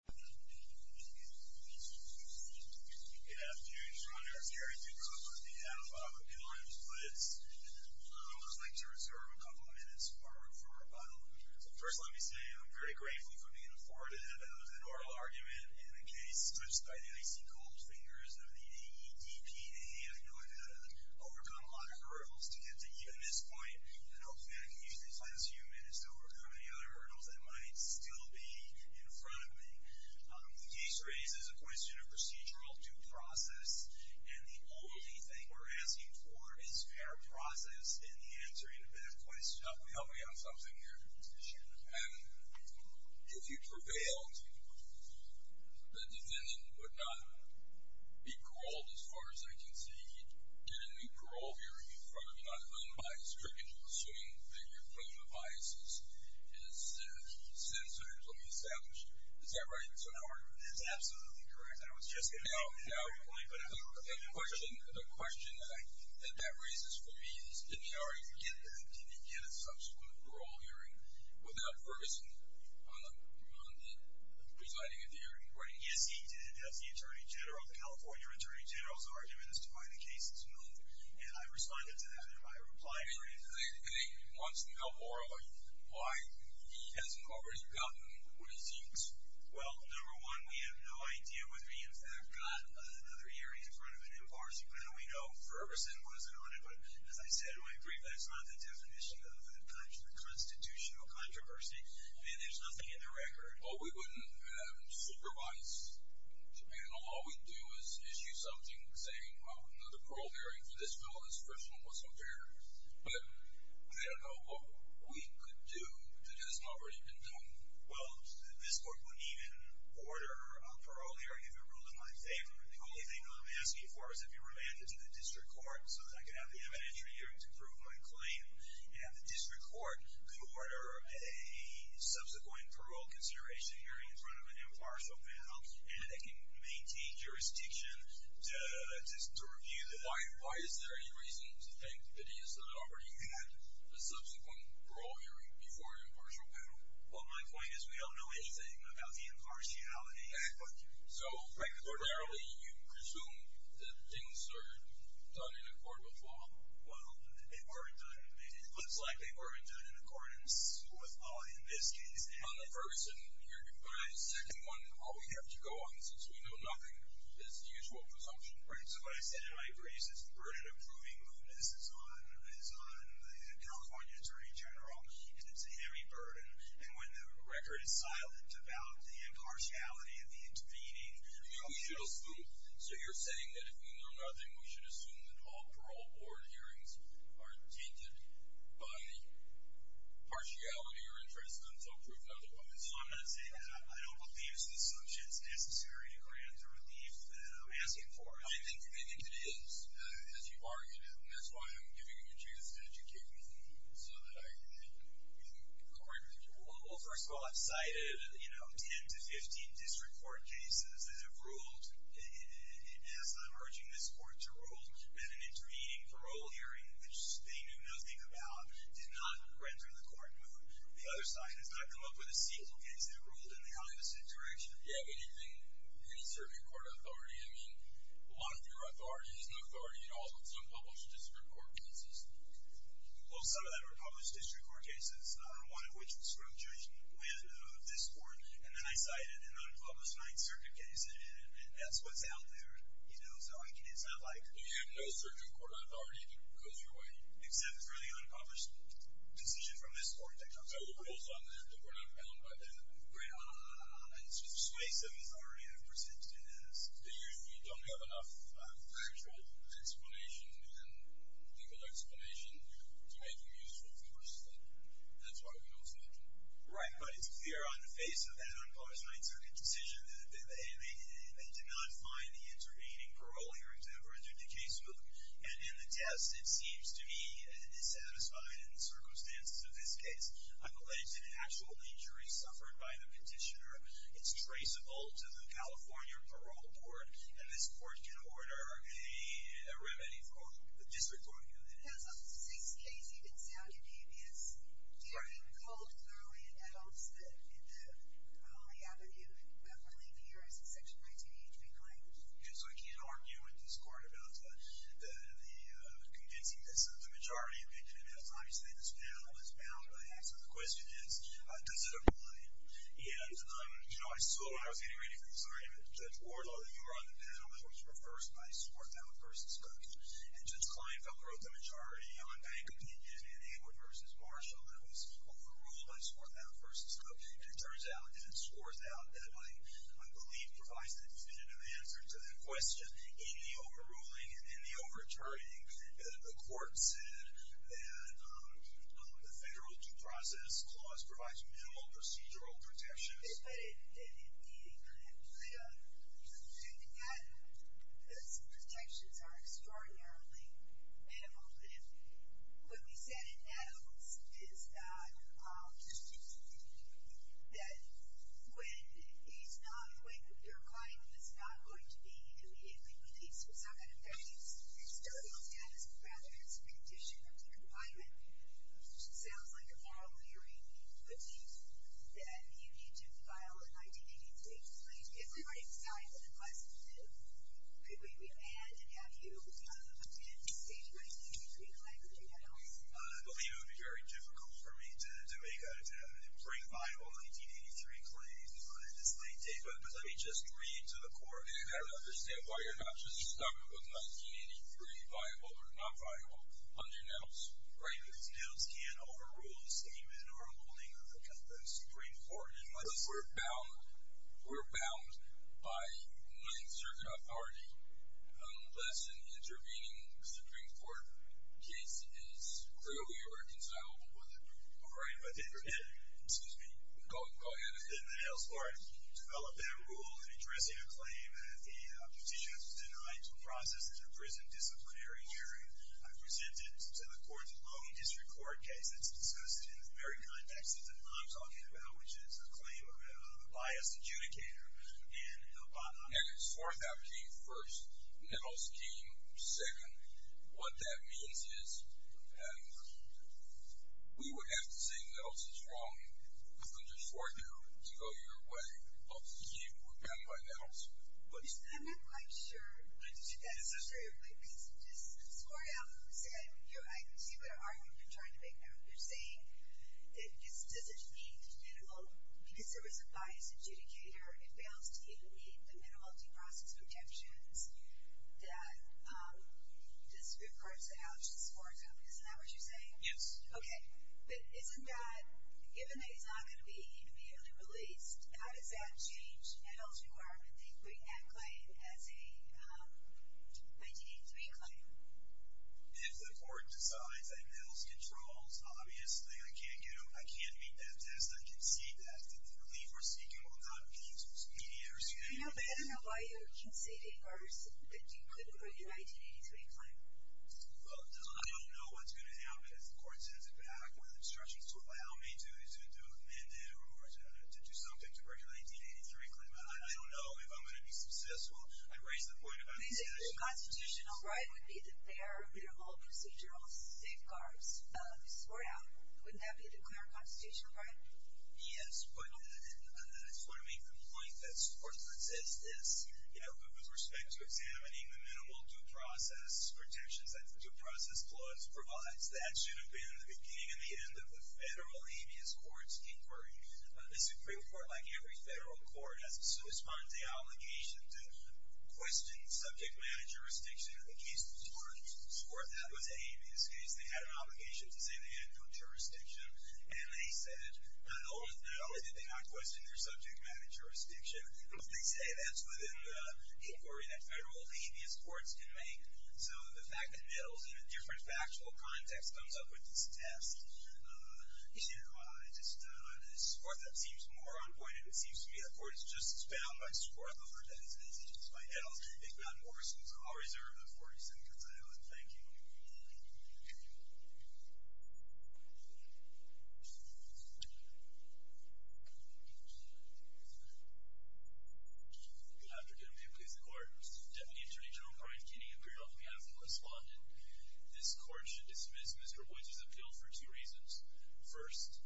Good afternoon, your honor. I'm Gary Ducliffe on behalf of Elvin Valenzuela Woods. I would like to reserve a couple of minutes for a rebuttal. First, let me say I'm very grateful for being afforded an oral argument in a case touched by the icy cold fingers of the EDPA. I know I've had to overcome a lot of hurdles to get to even this point, and hopefully I can use these last few minutes to overcome any other hurdles that might still be in front of me. The case raises a question of procedural due process, and the only thing we're asking for is fair process in the answering of that question. Now, can you help me on something here? Sure. And if you prevailed, the defendant would not be paroled as far as I can see. He'd get a new parole hearing in front of you, not unbiased, and you're not restricted to assuming that you're proven of biases. Is that right, Mr. Carter? That's absolutely correct. Now, the question that that raises for me is did he already get that? Did he get a subsequent parole hearing without Ferguson presiding at the hearing? Yes, he did, as the attorney general. The California attorney general's argument is to find a case that's moved, and I responded to that in my reply brief. And he wants to know more about why he hasn't already gotten what he seeks. Well, number one, we have no idea whether he, in fact, got another hearing in front of an impartial panel. We know Ferguson wasn't on it, but, as I said, I agree that's not the definition of a constitutional controversy, and there's nothing in the record. Well, we wouldn't supervise the panel. All we'd do is issue something saying, well, another parole hearing for this felon is Ferguson wasn't there. But I don't know what we could do that he hasn't already been done. Well, this court wouldn't even order a parole hearing if it ruled in my favor. The only thing I'm asking for is if it were handed to the district court so that I could have the evidentiary hearing to prove my claim, and the district court could order a subsequent parole consideration hearing in front of an impartial panel, and they can maintain jurisdiction to review the hearing. Why is there any reason to think that he has not already had a subsequent parole hearing before an impartial panel? Well, my point is we don't know anything about the impartiality. So, primarily, you presume that things are done in accordance with law. Well, it looks like they weren't done in accordance with law in this case. On the Ferguson hearing, but on the second one, all we have to go on, since we know nothing, is the usual presumption. Right. So, what I said in my brief is the burden of proving who this is on is on the California Attorney General. It's a heavy burden. And when the record is silent about the impartiality of the intervening… We should assume. So, you're saying that if we know nothing, we should assume that all parole board hearings are tainted by impartiality So, I'm not saying that. I don't believe it's an assumption. It's necessary to grant the relief that I'm asking for. I think it is, as you've argued, and that's why I'm giving you a chance to educate me so that I can correct you. Well, first of all, I've cited, you know, 10 to 15 district court cases that have ruled, and as I'm urging this court to rule, that an intervening parole hearing, which they knew nothing about, did not render the court moved. The other side has not come up with a single case that ruled in the opposite direction. Do you have any circuit court authority? I mean, a lot of your authority is no authority at all in some published district court cases. Well, some of that are published district court cases, one of which was from Judge Nguyen of this court, and then I cited an unpublished Ninth Circuit case, and that's what's out there, you know. So, it's not like… You have no circuit court authority because you're waiting. Except for the unpublished decision from this court. So, we're not bound by that. It's persuasive authority I've presented it as. You don't have enough factual explanation and legal explanation to make them useful for the system, and that's why we don't cite them. Right, but it's clear on the face of that unpublished Ninth Circuit decision that they did not find the intervening parole hearing to have rendered the case moved, and in the test, it seems to be dissatisfied in the circumstances of this case. I believe that an actual injury suffered by the petitioner is traceable to the California Parole Board, and this court can order a remedy for the district court hearing. There's a sixth case you didn't say on your name. Yes. Do you recall it thoroughly in the Holy Avenue, Beverly Piers, section 19HB9? Yes, I can't argue with this court about that. The convincingness of the majority opinion, and as I say, this panel is bound by that. So the question is, does it apply? And, you know, I was getting ready for this argument. Judge Wardlaw, you were on the panel. It was reversed by Swarthout v. Cook, and Judge Kleinfeld wrote the majority on bank opinion in Abel v. Marshall that was overruled by Swarthout v. Cook, and it turns out, and it scores out, that my belief provides the definitive answer to that question in the overruling, in the overturning. The court said that the federal due process clause provides minimal procedural protections. But it did. Those protections are extraordinarily minimal. What we said in Adams is that when he's not, when you're claiming that it's not going to be immediately released, it's not going to affect his custodial status, but rather his condition of the complainant, which sounds like a moral theory to me, that you need to file an 1983 claim if he were to die within less than a day. Could we move ahead and have you attempt to stage an 1983 claim, or do you want to? I believe it would be very difficult for me to make that attempt and bring by an 1983 claim on this late date, but let me just read to the court. I don't understand why you're not just stuck with 1983, viable or non-viable, on your nails. Right, because nails can't overrule a statement or a ruling of the Supreme Court. But we're bound by non-certain authority unless an intervening Supreme Court case is clearly reconcilable with it. All right. Excuse me. Go ahead. I'm interested in the Nails Court developing a rule in addressing a claim that the petitioner was denied to process as a prison disciplinary hearing. I present it to the court's loan district court case that's discussed in the very context that I'm talking about, which is a claim of a biased adjudicator and a bottom. Negative 4th out came first. Nails came second. What that means is we would have to say Nails is wrong if the 4th out to go your way helps you and not by Nails. I'm not quite sure if that's true. Because just the 4th out, I can see what argument you're trying to make there. You're saying it doesn't meet the minimum because there was a biased adjudicator. It fails to meet the minimum multi-process protections that the Supreme Court set out as the 4th out. Isn't that what you're saying? Yes. Okay. But isn't that, given that he's not going to be immediately released, how does that change Nails' requirement that you bring that claim as a 1983 claim? If the court decides that Nails controls, obviously I can't meet that test. I can see that. The relief we're seeking will not be speedier. I don't know why you're conceding or that you couldn't bring a 1983 claim. Well, I don't know what's going to happen because the court sends it back with instructions to allow me to do a mandate or to do something to bring a 1983 claim. I don't know if I'm going to be successful. I raise the point about the statute. The constitutional right would be that there are minimal procedural safeguards. The 4th out, wouldn't that be the clear constitutional right? Yes, but I just want to make the point that the 4th out says this. With respect to examining the minimal due process protections that the due process clause provides, that should have been the beginning and the end of the federal habeas court's inquiry. The Supreme Court, like every federal court, has a substantial obligation to question subject matter jurisdiction. In the case of the 4th out, it was a habeas case. They had an obligation to say they had no jurisdiction, and they said not only did they not question their subject matter jurisdiction, but they say that's within the inquiry that federal habeas courts can make. So, the fact that Nettles, in a different factual context, comes up with this test, you know, I just, the 4th out seems more on point, and it seems to me the court is just bound by 4th out, as it is by Nettles. If not more, since I'll reserve the 4th out, because I don't want to thank you. Good afternoon. Please declare. Deputy Attorney General Brian Kinney appeared on behalf of the respondent. This court should dismiss Mr. Woods' appeal for two reasons. First,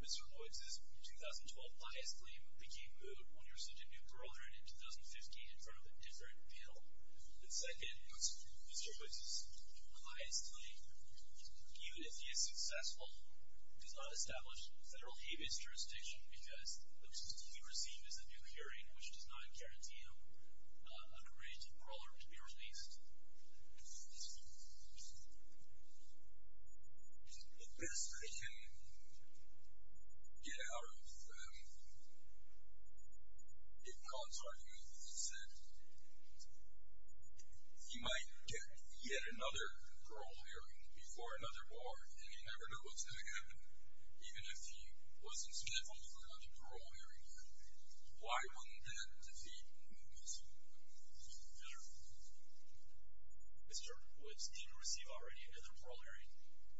Mr. Woods' 2012 bias claim became moved when he was sued in New Brunswick in 2015 in front of a different appeal. And second, Mr. Woods' bias claim, even if he is successful, does not establish federal habeas jurisdiction because the plea received is a new hearing, which does not guarantee him a creative parole hearing to be released. The best I can get out of Dave Collins' argument is that he might get yet another parole hearing before another bar, and you never know what's going to happen, even if he wasn't smitten for another parole hearing. Why wouldn't that defeat Mr. Woods? Mr. Woods didn't receive already another parole hearing,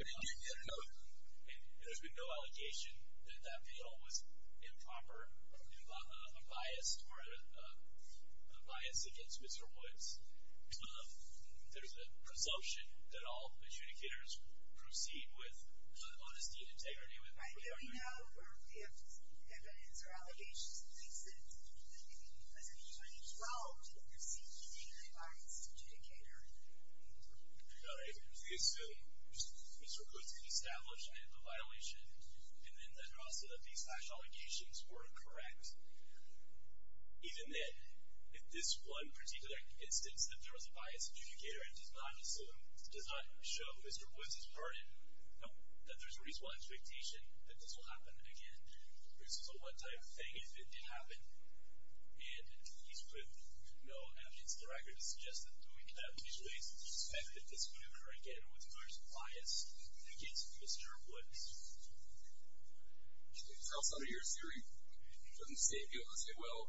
and there's been no allocation that that appeal was improper, a bias, or a bias against Mr. Woods. There's a presumption that all adjudicators proceed with honesty and integrity. I don't know if evidence or allegations thinks that as of 2012, he received anything as a biased adjudicator. I assume Mr. Woods had established a violation, and then also that these slash allegations were correct, even if this one particular instance that there was a biased adjudicator does not show Mr. Woods' burden, that there's a reasonable expectation that this will happen again. This is a one-time thing. If it did happen, and he's put no evidence to the record to suggest that doing that usually isn't expected. This would occur again with a large bias against Mr. Woods. It's how some of your hearing doesn't state, you know, say, well,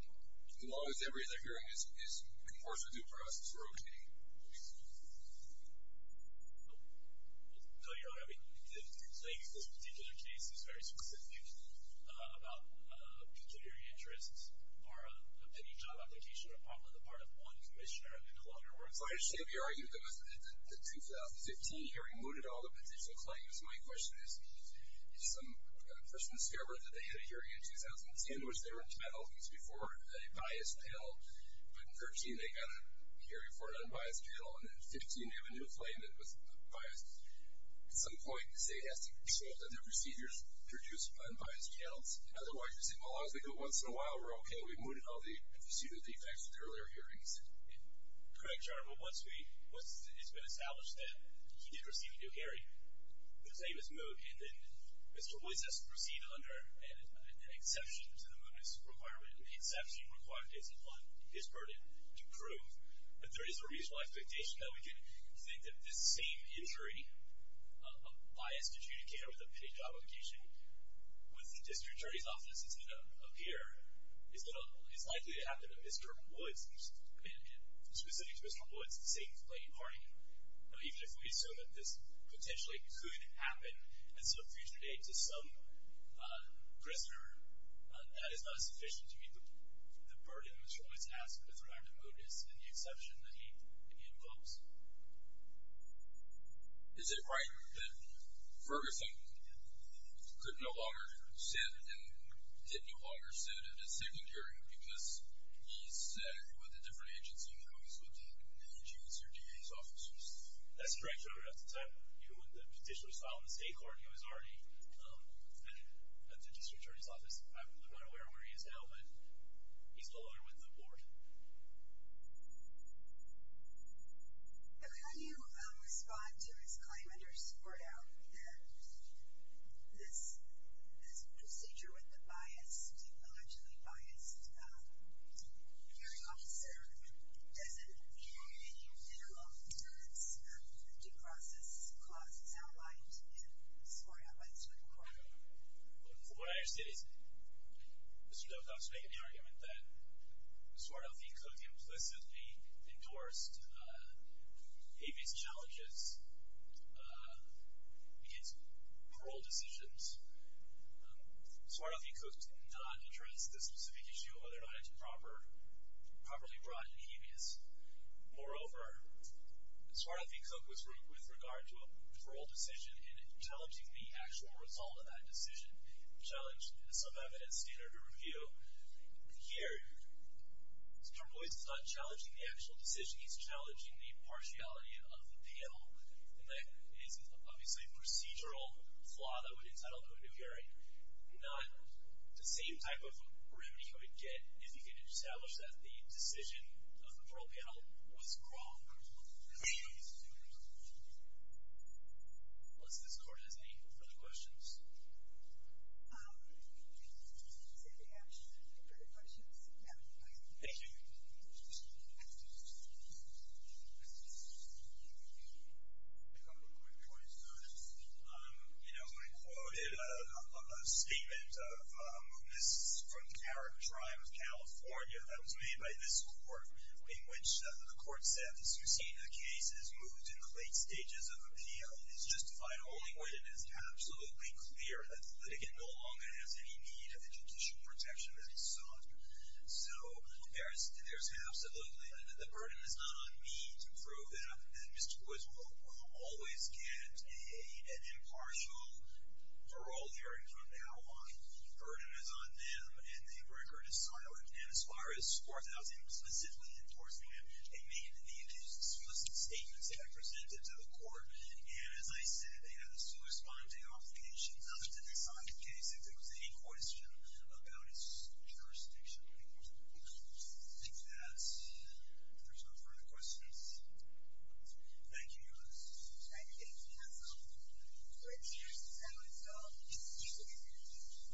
as long as every other hearing is, of course, a due process for opening. I'll tell you what, I mean, the claim in this particular case is very specific about pecuniary interests or a pending job application or probably the part of one commissioner that no longer works. So I understand you're arguing that the 2015 hearing mooted all the potential claims. My question is, if some person discovered that they had a hearing in 2010, which they were entitled to before a biased appeal, but in 2013 they got a hearing before an unbiased appeal, and in 2015 they have a new claim that was biased, at some point, say, it has to be resolved that their procedures produce unbiased channels. Otherwise, you say, well, as long as they go once in a while, we're okay, we've mooted all the procedural defects of the earlier hearings. Correct, Your Honor. But once it's been established that he did receive a new hearing, the claim is moot, and then Mr. Woods has to proceed under an exception to the mootness requirement, and the exception required is his burden to prove that there is a reasonable expectation that we can think that this same injury, a biased adjudicator with a pitted job application, with the district attorney's offices that appear, is likely to happen to Mr. Woods, specifically to Mr. Woods, the same claim party. Even if we assume that this potentially could happen as a future date to some prisoner, that is not sufficient to meet the burden Mr. Woods asked with regard to mootness and the exception that he invokes. Is it right that Ferguson could no longer sit and did no longer sit at his second hearing because he sat with a different agency than he always would have with the judge or DA's offices? That's correct, Your Honor. At the time, when the petition was filed in the state court, he was already at the district attorney's office. I'm not aware of where he is now, but he's no longer with the board. How do you respond to his claim under Spordow that this procedure with the biased, allegedly biased, hearing officer doesn't meet any general standards of due process costs outlined in Spordow by the Supreme Court? From what I understand, Mr. Delcock's making the argument that Spordow v. Cook implicitly endorsed habeas challenges against paroled decisions. Spordow v. Cook did not address this specific issue whether or not it's properly brought in habeas. Moreover, Spordow v. Cook with regard to a paroled decision and challenging the actual result of that decision challenged some evidence standard or review. Here, Mr. Boyce is not challenging the actual decision. He's challenging the partiality of the panel. And that is obviously procedural flaw that would entitle to a new hearing, not the same type of remedy you would get if you could establish that the decision of the parole panel was wrong. Unless this court has any further questions. Cynthia, if you have any questions, yeah, go ahead. Thank you. A couple of quick points to this. You know, I quoted a statement of a witness from the Carrick Tribe of California that was made by this court in which the court said, as you've seen, the case has moved in the late stages of appeal. It's justified holding when it is absolutely clear that the litigant no longer has any need of the judicial protection that he sought. So, there's absolutely, the burden is not on me to prove that Mr. Boyce will always get an impartial parole hearing from now on. The burden is on them, and the record is silent. And as far as the court, I was explicitly enforcing it. They made the explicit statements that I presented to the court. And as I said, they have a corresponding obligation not to decide the case if there was any question about its jurisdiction. I think that there's no further questions. Thank you.